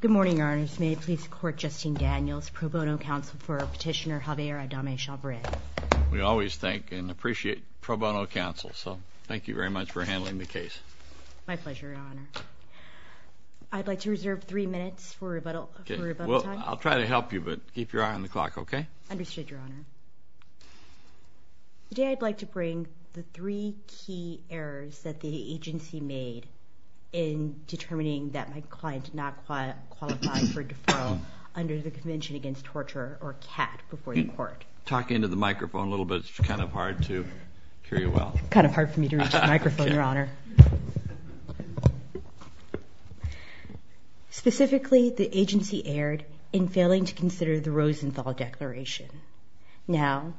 Good morning, Your Honors. May it please the Court, Justine Daniels, pro bono counsel for Petitioner Javier Adame Chavarin. We always thank and appreciate pro bono counsel, so thank you very much for handling the case. My pleasure, Your Honor. I'd like to reserve three minutes for rebuttal time. Well, I'll try to help you, but keep your eye on the clock, okay? Understood, Your Honor. Today, I'd like to bring the three key errors that the agency made in determining that my client did not qualify for deferral under the Convention Against Torture, or CAT, before the Court. Talk into the microphone a little bit. It's kind of hard to hear you well. It's kind of hard for me to reach the microphone, Your Honor. Specifically, the agency erred in failing to consider the Rosenthal Declaration. Now,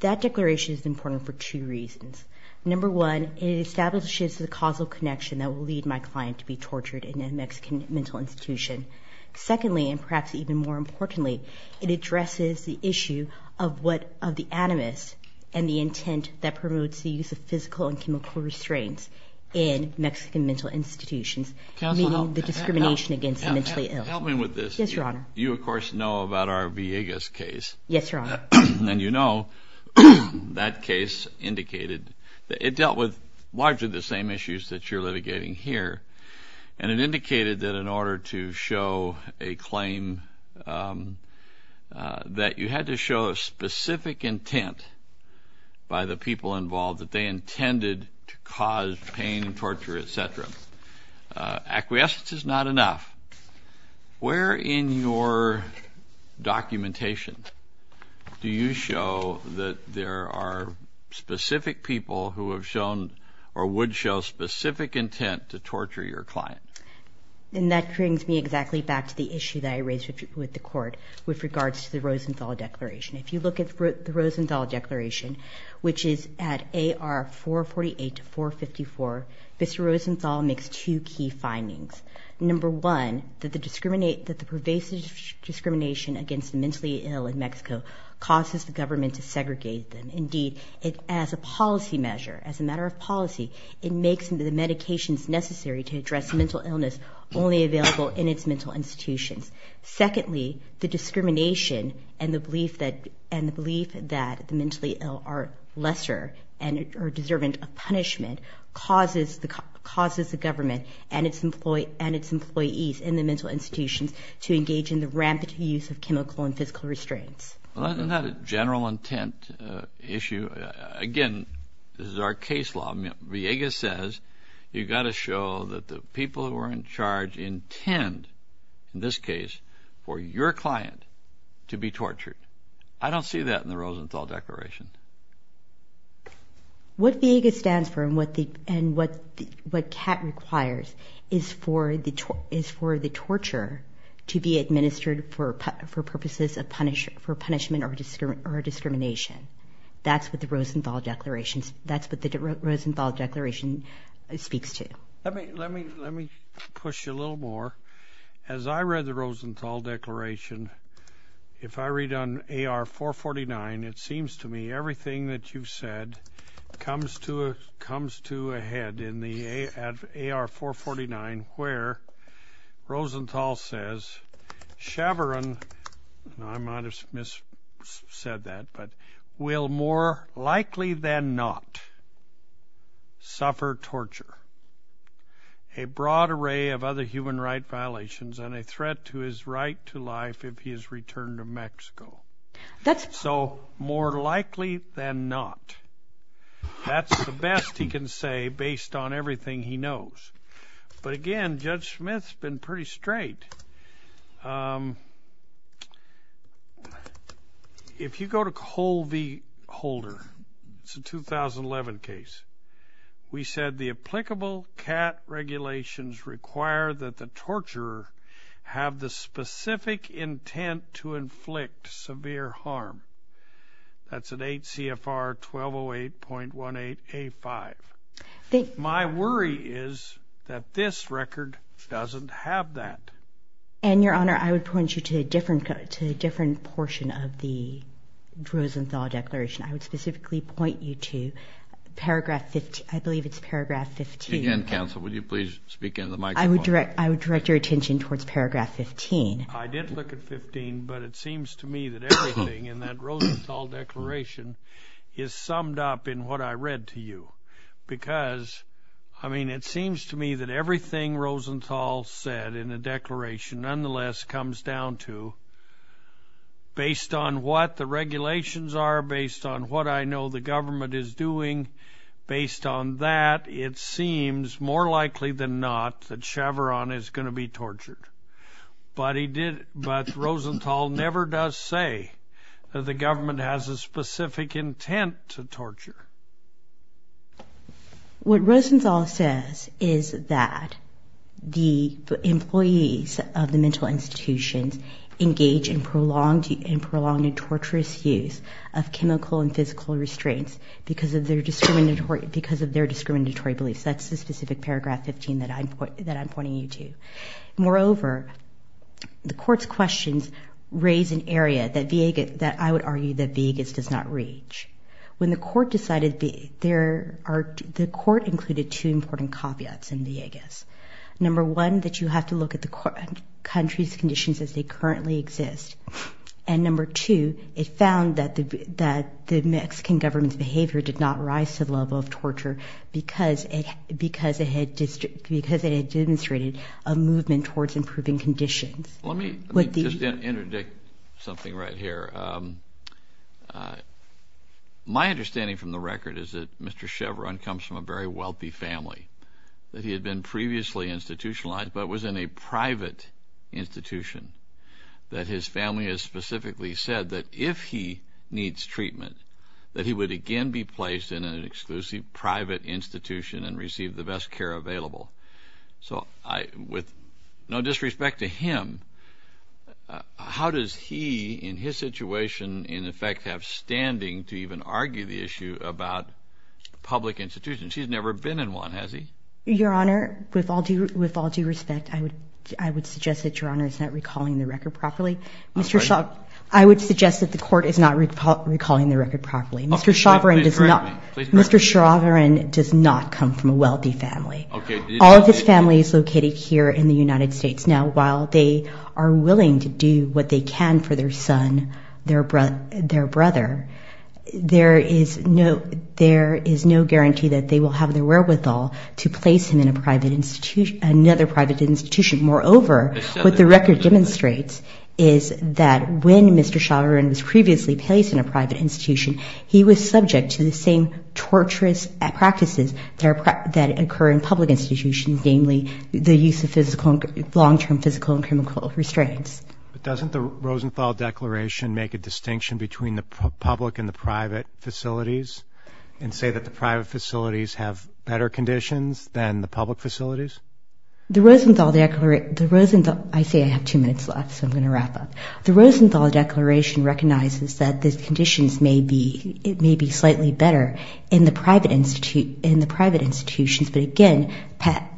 that declaration is important for two reasons. Number one, it establishes the causal connection that will lead my client to be tortured in a Mexican mental institution. Secondly, and perhaps even more importantly, it addresses the issue of the animus and the intent that promotes the use of physical and chemical restraints in Mexican mental institutions, meaning the discrimination against the mentally ill. Help me with this. Yes, Your Honor. You, of course, know about our Villegas case. Yes, Your Honor. And you know that case indicated that it dealt with largely the same issues that you're litigating here, and it indicated that in order to show a claim that you had to show a specific intent by the people involved, that they intended to cause pain and torture, et cetera. Acquiescence is not enough. Where in your documentation do you show that there are specific people who have shown or would show specific intent to torture your client? And that brings me exactly back to the issue that I raised with the Court with regards to the Rosenthal Declaration. If you look at the Rosenthal Declaration, which is at AR 448 to 454, Mr. Rosenthal makes two key findings. Number one, that the pervasive discrimination against the mentally ill in Mexico causes the government to segregate them. Indeed, as a policy measure, as a matter of policy, it makes the medications necessary to address mental illness only available in its mental institutions. Secondly, the discrimination and the belief that the mentally ill are lesser and are deserving of punishment causes the government and its employees in the mental institutions to engage in the rampant use of chemical and physical restraints. Well, isn't that a general intent issue? Again, this is our case law. Viega says you've got to show that the people who are in charge intend, in this case, for your client to be tortured. I don't see that in the Rosenthal Declaration. What VIEGA stands for and what CAT requires is for the torture to be administered for purposes of punishment or discrimination. That's what the Rosenthal Declaration speaks to. Let me push you a little more. As I read the Rosenthal Declaration, if I read on AR-449, it seems to me everything that you've said comes to a head. In the AR-449 where Rosenthal says, Chevron, and I might have miss-said that, but, will more likely than not suffer torture, a broad array of other human rights violations, and a threat to his right to life if he is returned to Mexico. So, more likely than not. That's the best he can say based on everything he knows. But again, Judge Smith's been pretty straight. If you go to Cole v. Holder, it's a 2011 case. We said the applicable CAT regulations require that the torturer have the specific intent to inflict severe harm. That's at 8 CFR 1208.18A5. My worry is that this record doesn't have that. And, Your Honor, I would point you to a different portion of the Rosenthal Declaration. I would specifically point you to Paragraph 15. Again, Counsel, would you please speak into the microphone? I would direct your attention towards Paragraph 15. I did look at 15, but it seems to me that everything in that Rosenthal Declaration is summed up in what I read to you. Because, I mean, it seems to me that everything Rosenthal said in the Declaration, nonetheless, comes down to, based on what the regulations are, based on what I know the government is doing, based on that, it seems more likely than not that Chavarron is going to be tortured. But Rosenthal never does say that the government has a specific intent to torture. What Rosenthal says is that the employees of the mental institutions engage in prolonged and torturous use of chemical and physical restraints because of their discriminatory beliefs. That's the specific Paragraph 15 that I'm pointing you to. Moreover, the Court's questions raise an area that I would argue that Villegas does not reach. When the Court decided, the Court included two important caveats in Villegas. Number one, that you have to look at the country's conditions as they currently exist. And number two, it found that the Mexican government's behavior did not rise to the level of torture because it had demonstrated a movement towards improving conditions. Let me just interdict something right here. My understanding from the record is that Mr. Chavarron comes from a very wealthy family, that he had been previously institutionalized but was in a private institution, that his family has specifically said that if he needs treatment, that he would again be placed in an exclusive private institution and receive the best care available. So with no disrespect to him, how does he, in his situation, in effect, have standing to even argue the issue about public institutions? He's never been in one, has he? Your Honor, with all due respect, I would suggest that Your Honor is not recalling the record properly. I would suggest that the Court is not recalling the record properly. Mr. Chavarron does not come from a wealthy family. All of his family is located here in the United States. Now, while they are willing to do what they can for their son, their brother, there is no guarantee that they will have the wherewithal to place him in another private institution. Moreover, what the record demonstrates is that when Mr. Chavarron was previously placed in a private institution, he was subject to the same torturous practices that occur in public institutions, namely the use of long-term physical and chemical restraints. But doesn't the Rosenthal Declaration make a distinction between the public and the private facilities and say that the private facilities have better conditions than the public facilities? I say I have two minutes left, so I'm going to wrap up. The Rosenthal Declaration recognizes that the conditions may be slightly better in the private institutions, but again,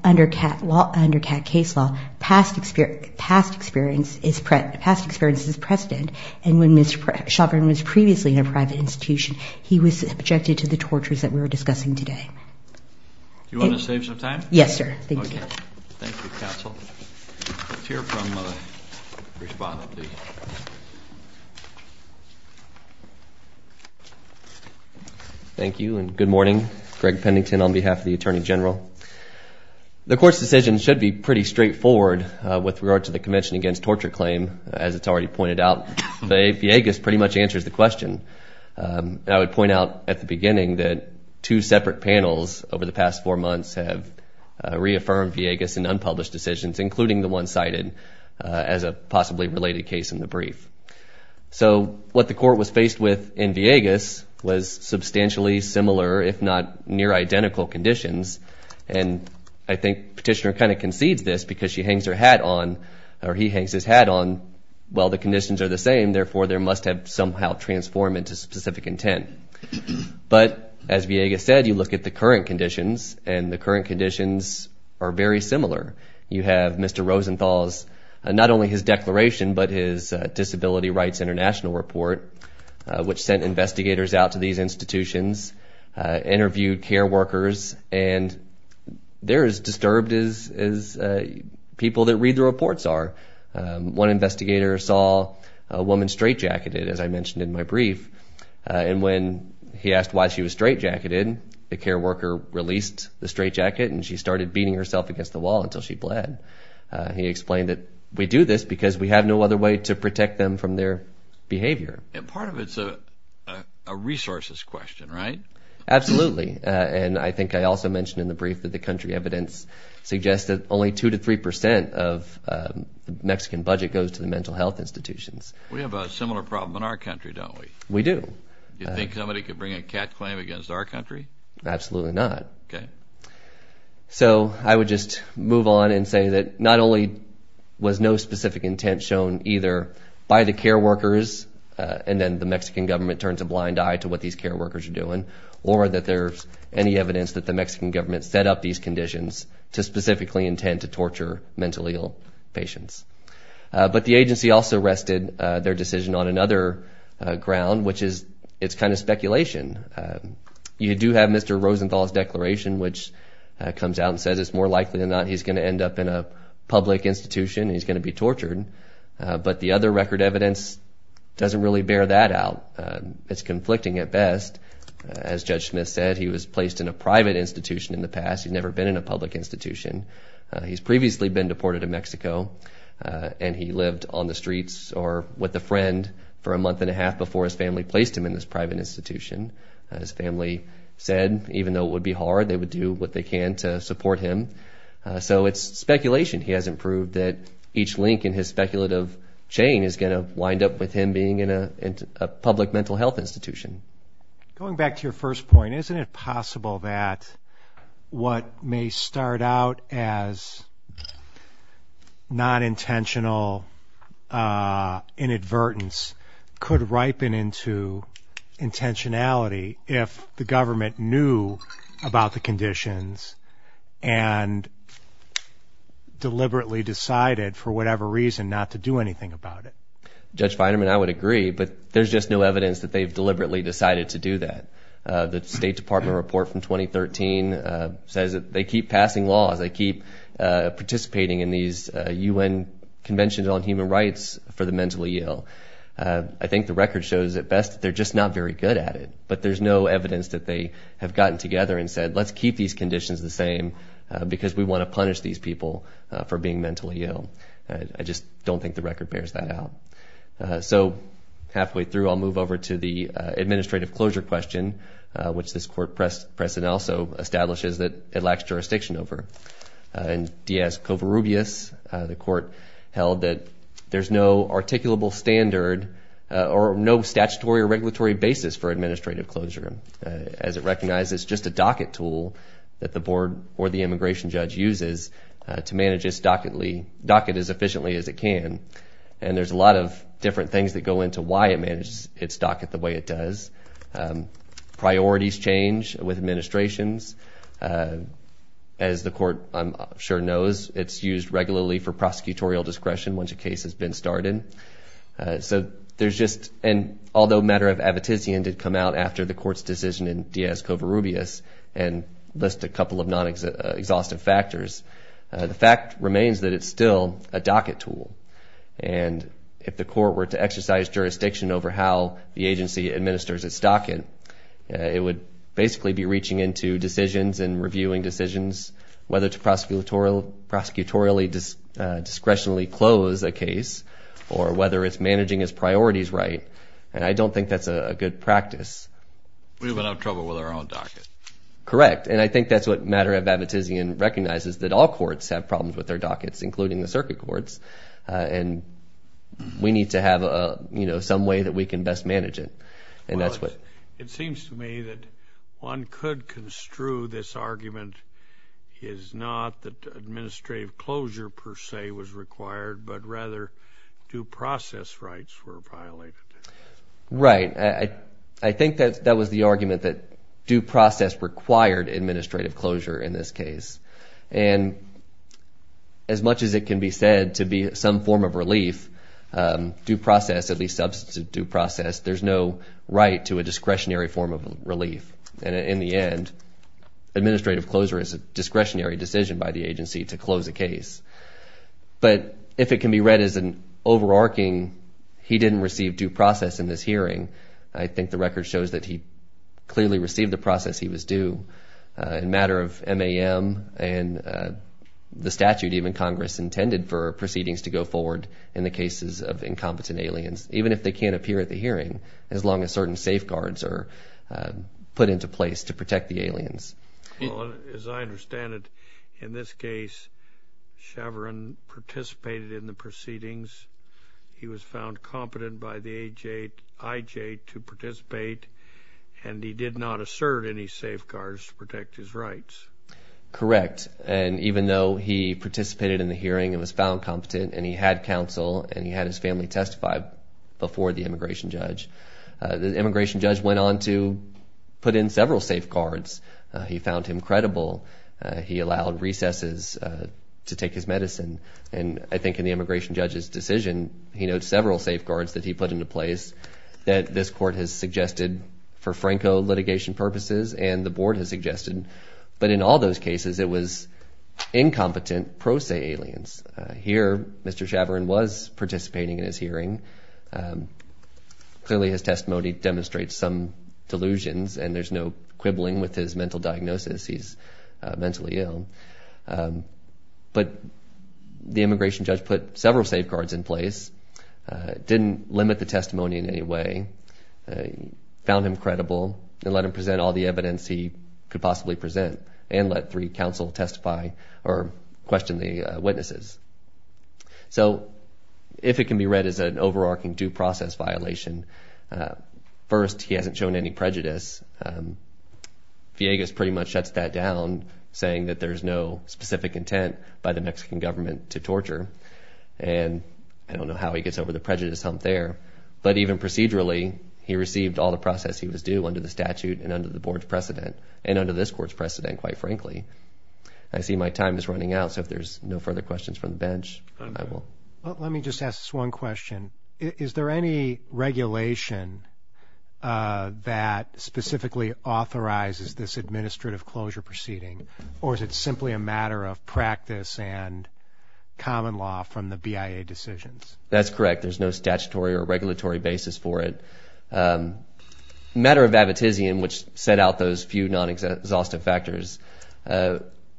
under CAT case law, past experience is precedent. And when Mr. Chavarron was previously in a private institution, he was subjected to the tortures that we're discussing today. Do you want to save some time? Yes, sir. Thank you, counsel. Let's hear from the respondent, please. Thank you, and good morning. Greg Pennington on behalf of the Attorney General. The court's decision should be pretty straightforward with regard to the Convention Against Torture Claim. As it's already pointed out, the APA pretty much answers the question. I would point out at the beginning that two separate panels over the past four months have reaffirmed Villegas' unpublished decisions, including the one cited as a possibly related case in the brief. So what the court was faced with in Villegas was substantially similar, if not near identical, conditions. And I think Petitioner kind of concedes this because she hangs her hat on, or he hangs his hat on, well, the conditions are the same, therefore they must have somehow transformed into specific intent. But as Villegas said, you look at the current conditions, and the current conditions are very similar. You have Mr. Rosenthal's, not only his declaration, but his Disability Rights International report, which sent investigators out to these institutions, interviewed care workers, and they're as disturbed as people that read the reports are. One investigator saw a woman straitjacketed, as I mentioned in my brief, and when he asked why she was straitjacketed, the care worker released the straitjacket and she started beating herself against the wall until she bled. He explained that we do this because we have no other way to protect them from their behavior. And part of it's a resources question, right? Absolutely, and I think I also mentioned in the brief that the country evidence suggests that only 2 to 3 percent of the Mexican budget goes to the mental health institutions. We have a similar problem in our country, don't we? We do. Do you think somebody could bring a CAT claim against our country? Absolutely not. Okay. So I would just move on and say that not only was no specific intent shown either by the care workers, and then the Mexican government turns a blind eye to what these care workers are doing, or that there's any evidence that the Mexican government set up these conditions to specifically intend to torture mentally ill patients. But the agency also rested their decision on another ground, which is it's kind of speculation. You do have Mr. Rosenthal's declaration, which comes out and says it's more likely than not he's going to end up in a public institution and he's going to be tortured. But the other record evidence doesn't really bear that out. It's conflicting at best. As Judge Smith said, he was placed in a private institution in the past. He's never been in a public institution. He's previously been deported to Mexico, and he lived on the streets or with a friend for a month and a half before his family placed him in this private institution. His family said even though it would be hard, they would do what they can to support him. So it's speculation. He hasn't proved that each link in his speculative chain is going to wind up with him being in a public mental health institution. Going back to your first point, isn't it possible that what may start out as non-intentional inadvertence could ripen into intentionality if the government knew about the conditions and deliberately decided for whatever reason not to do anything about it? Judge Feinerman, I would agree, but there's just no evidence that they've deliberately decided to do that. The State Department report from 2013 says that they keep passing laws. They keep participating in these U.N. conventions on human rights for the mentally ill. I think the record shows at best that they're just not very good at it, but there's no evidence that they have gotten together and said, let's keep these conditions the same because we want to punish these people for being mentally ill. I just don't think the record bears that out. So halfway through, I'll move over to the administrative closure question, which this court precedent also establishes that it lacks jurisdiction over. In D.S. Covarrubias, the court held that there's no articulable standard or no statutory or regulatory basis for administrative closure, as it recognizes it's just a docket tool that the board or the immigration judge uses to manage its docket as efficiently as it can. And there's a lot of different things that go into why it manages its docket the way it does. Priorities change with administrations. As the court, I'm sure, knows, it's used regularly for prosecutorial discretion once a case has been started. So there's just, and although a matter of abitizian did come out after the court's decision in D.S. Covarrubias and list a couple of non-exhaustive factors, the fact remains that it's still a docket tool. And if the court were to exercise jurisdiction over how the agency administers its docket, it would basically be reaching into decisions and reviewing decisions, whether to prosecutorial discretionally close a case or whether it's managing its priorities right. And I don't think that's a good practice. We would have trouble with our own docket. Correct. And I think that's what matter of abitizian recognizes, that all courts have problems with their dockets, including the circuit courts, and we need to have some way that we can best manage it. Well, it seems to me that one could construe this argument is not that administrative closure per se was required, but rather due process rights were violated. Right. I think that was the argument that due process required administrative closure in this case. And as much as it can be said to be some form of relief, due process, at least substantive due process, there's no right to a discretionary form of relief. And in the end, administrative closure is a discretionary decision by the agency to close a case. But if it can be read as an overarching, he didn't receive due process in this hearing, I think the record shows that he clearly received the process he was due in a matter of MAM and the statute even Congress intended for proceedings to go forward in the cases of incompetent aliens, even if they can't appear at the hearing as long as certain safeguards are put into place to protect the aliens. As I understand it, in this case, Chavarin participated in the proceedings. He was found competent by the IJ to participate, and he did not assert any safeguards to protect his rights. Correct. And even though he participated in the hearing and was found competent and he had counsel and he had his family testify before the immigration judge, the immigration judge went on to put in several safeguards. He found him credible. He allowed recesses to take his medicine. And I think in the immigration judge's decision, he notes several safeguards that he put into place that this court has suggested for Franco litigation purposes and the board has suggested. But in all those cases, it was incompetent pro se aliens. Here, Mr. Chavarin was participating in his hearing. Clearly, his testimony demonstrates some delusions, and there's no quibbling with his mental diagnosis. He's mentally ill. But the immigration judge put several safeguards in place, didn't limit the testimony in any way, found him credible, and let him present all the evidence he could possibly present and let three counsel testify or question the witnesses. So if it can be read as an overarching due process violation, first, he hasn't shown any prejudice. Villegas pretty much shuts that down, saying that there's no specific intent by the Mexican government to torture. And I don't know how he gets over the prejudice hump there. But even procedurally, he received all the process he was due under the statute and under the board's precedent and under this court's precedent, quite frankly. I see my time is running out, so if there's no further questions from the bench, I will. Let me just ask this one question. Is there any regulation that specifically authorizes this administrative closure proceeding, or is it simply a matter of practice and common law from the BIA decisions? That's correct. There's no statutory or regulatory basis for it. The matter of Abitizian, which set out those few non-exhaustive factors,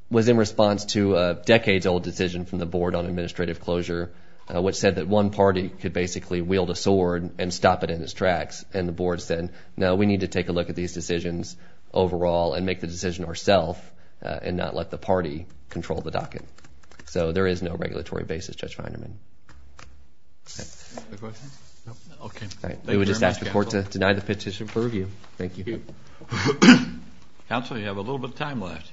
was in response to a decades-old decision from the board on administrative closure, which said that one party could basically wield a sword and stop it in its tracks. And the board said, no, we need to take a look at these decisions overall and make the decision ourself and not let the party control the docket. So there is no regulatory basis, Judge Feinerman. Any other questions? We would just ask the court to deny the petition for review. Thank you. Counsel, you have a little bit of time left.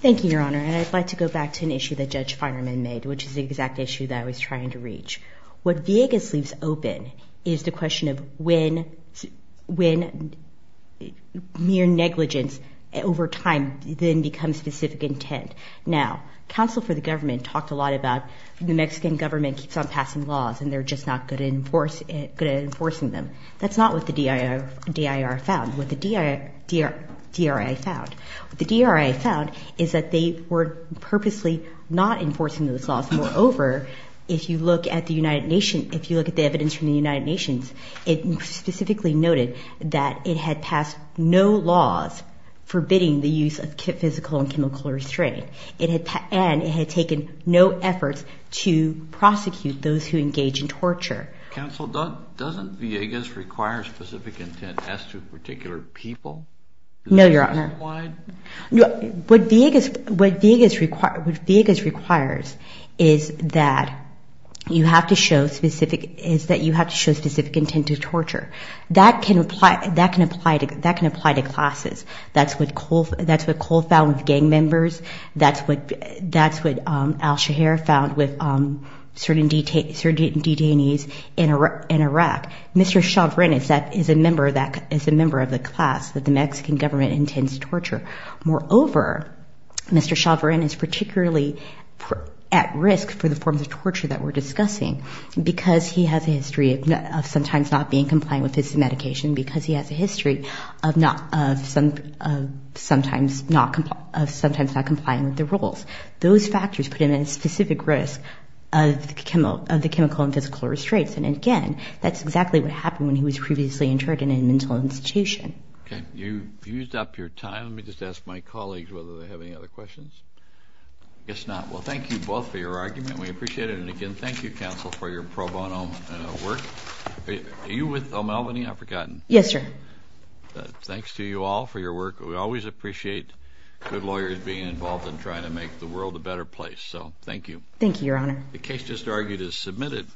Thank you, Your Honor, and I'd like to go back to an issue that Judge Feinerman made, which is the exact issue that I was trying to reach. What Vegas leaves open is the question of when mere negligence over time then becomes specific intent. Now, counsel for the government talked a lot about the Mexican government keeps on passing laws and they're just not good at enforcing them. That's not what the D.I.R. found, what the D.R.I. found. What the D.R.I. found is that they were purposely not enforcing those laws. Moreover, if you look at the United Nations, if you look at the evidence from the United Nations, it specifically noted that it had passed no laws forbidding the use of physical and chemical restraint, and it had taken no efforts to prosecute those who engage in torture. Counsel, doesn't Vegas require specific intent as to particular people? No, Your Honor. What Vegas requires is that you have to show specific intent to torture. That can apply to classes. That's what Cole found with gang members. That's what Al-Shahar found with certain detainees in Iraq. Mr. Chavarin is a member of the class that the Mexican government intends to torture. Moreover, Mr. Chavarin is particularly at risk for the forms of torture that we're discussing because he has a history of sometimes not being compliant with his medication, because he has a history of sometimes not complying with the rules. Those factors put him at a specific risk of the chemical and physical restraints. And, again, that's exactly what happened when he was previously interred in a mental institution. Okay. You've used up your time. Let me just ask my colleagues whether they have any other questions. I guess not. Well, thank you both for your argument. We appreciate it. And, again, thank you, counsel, for your pro bono work. Are you with O'Melveny? I've forgotten. Yes, sir. Thanks to you all for your work. We always appreciate good lawyers being involved in trying to make the world a better place. So thank you. Thank you, Your Honor. The case just argued is submitted.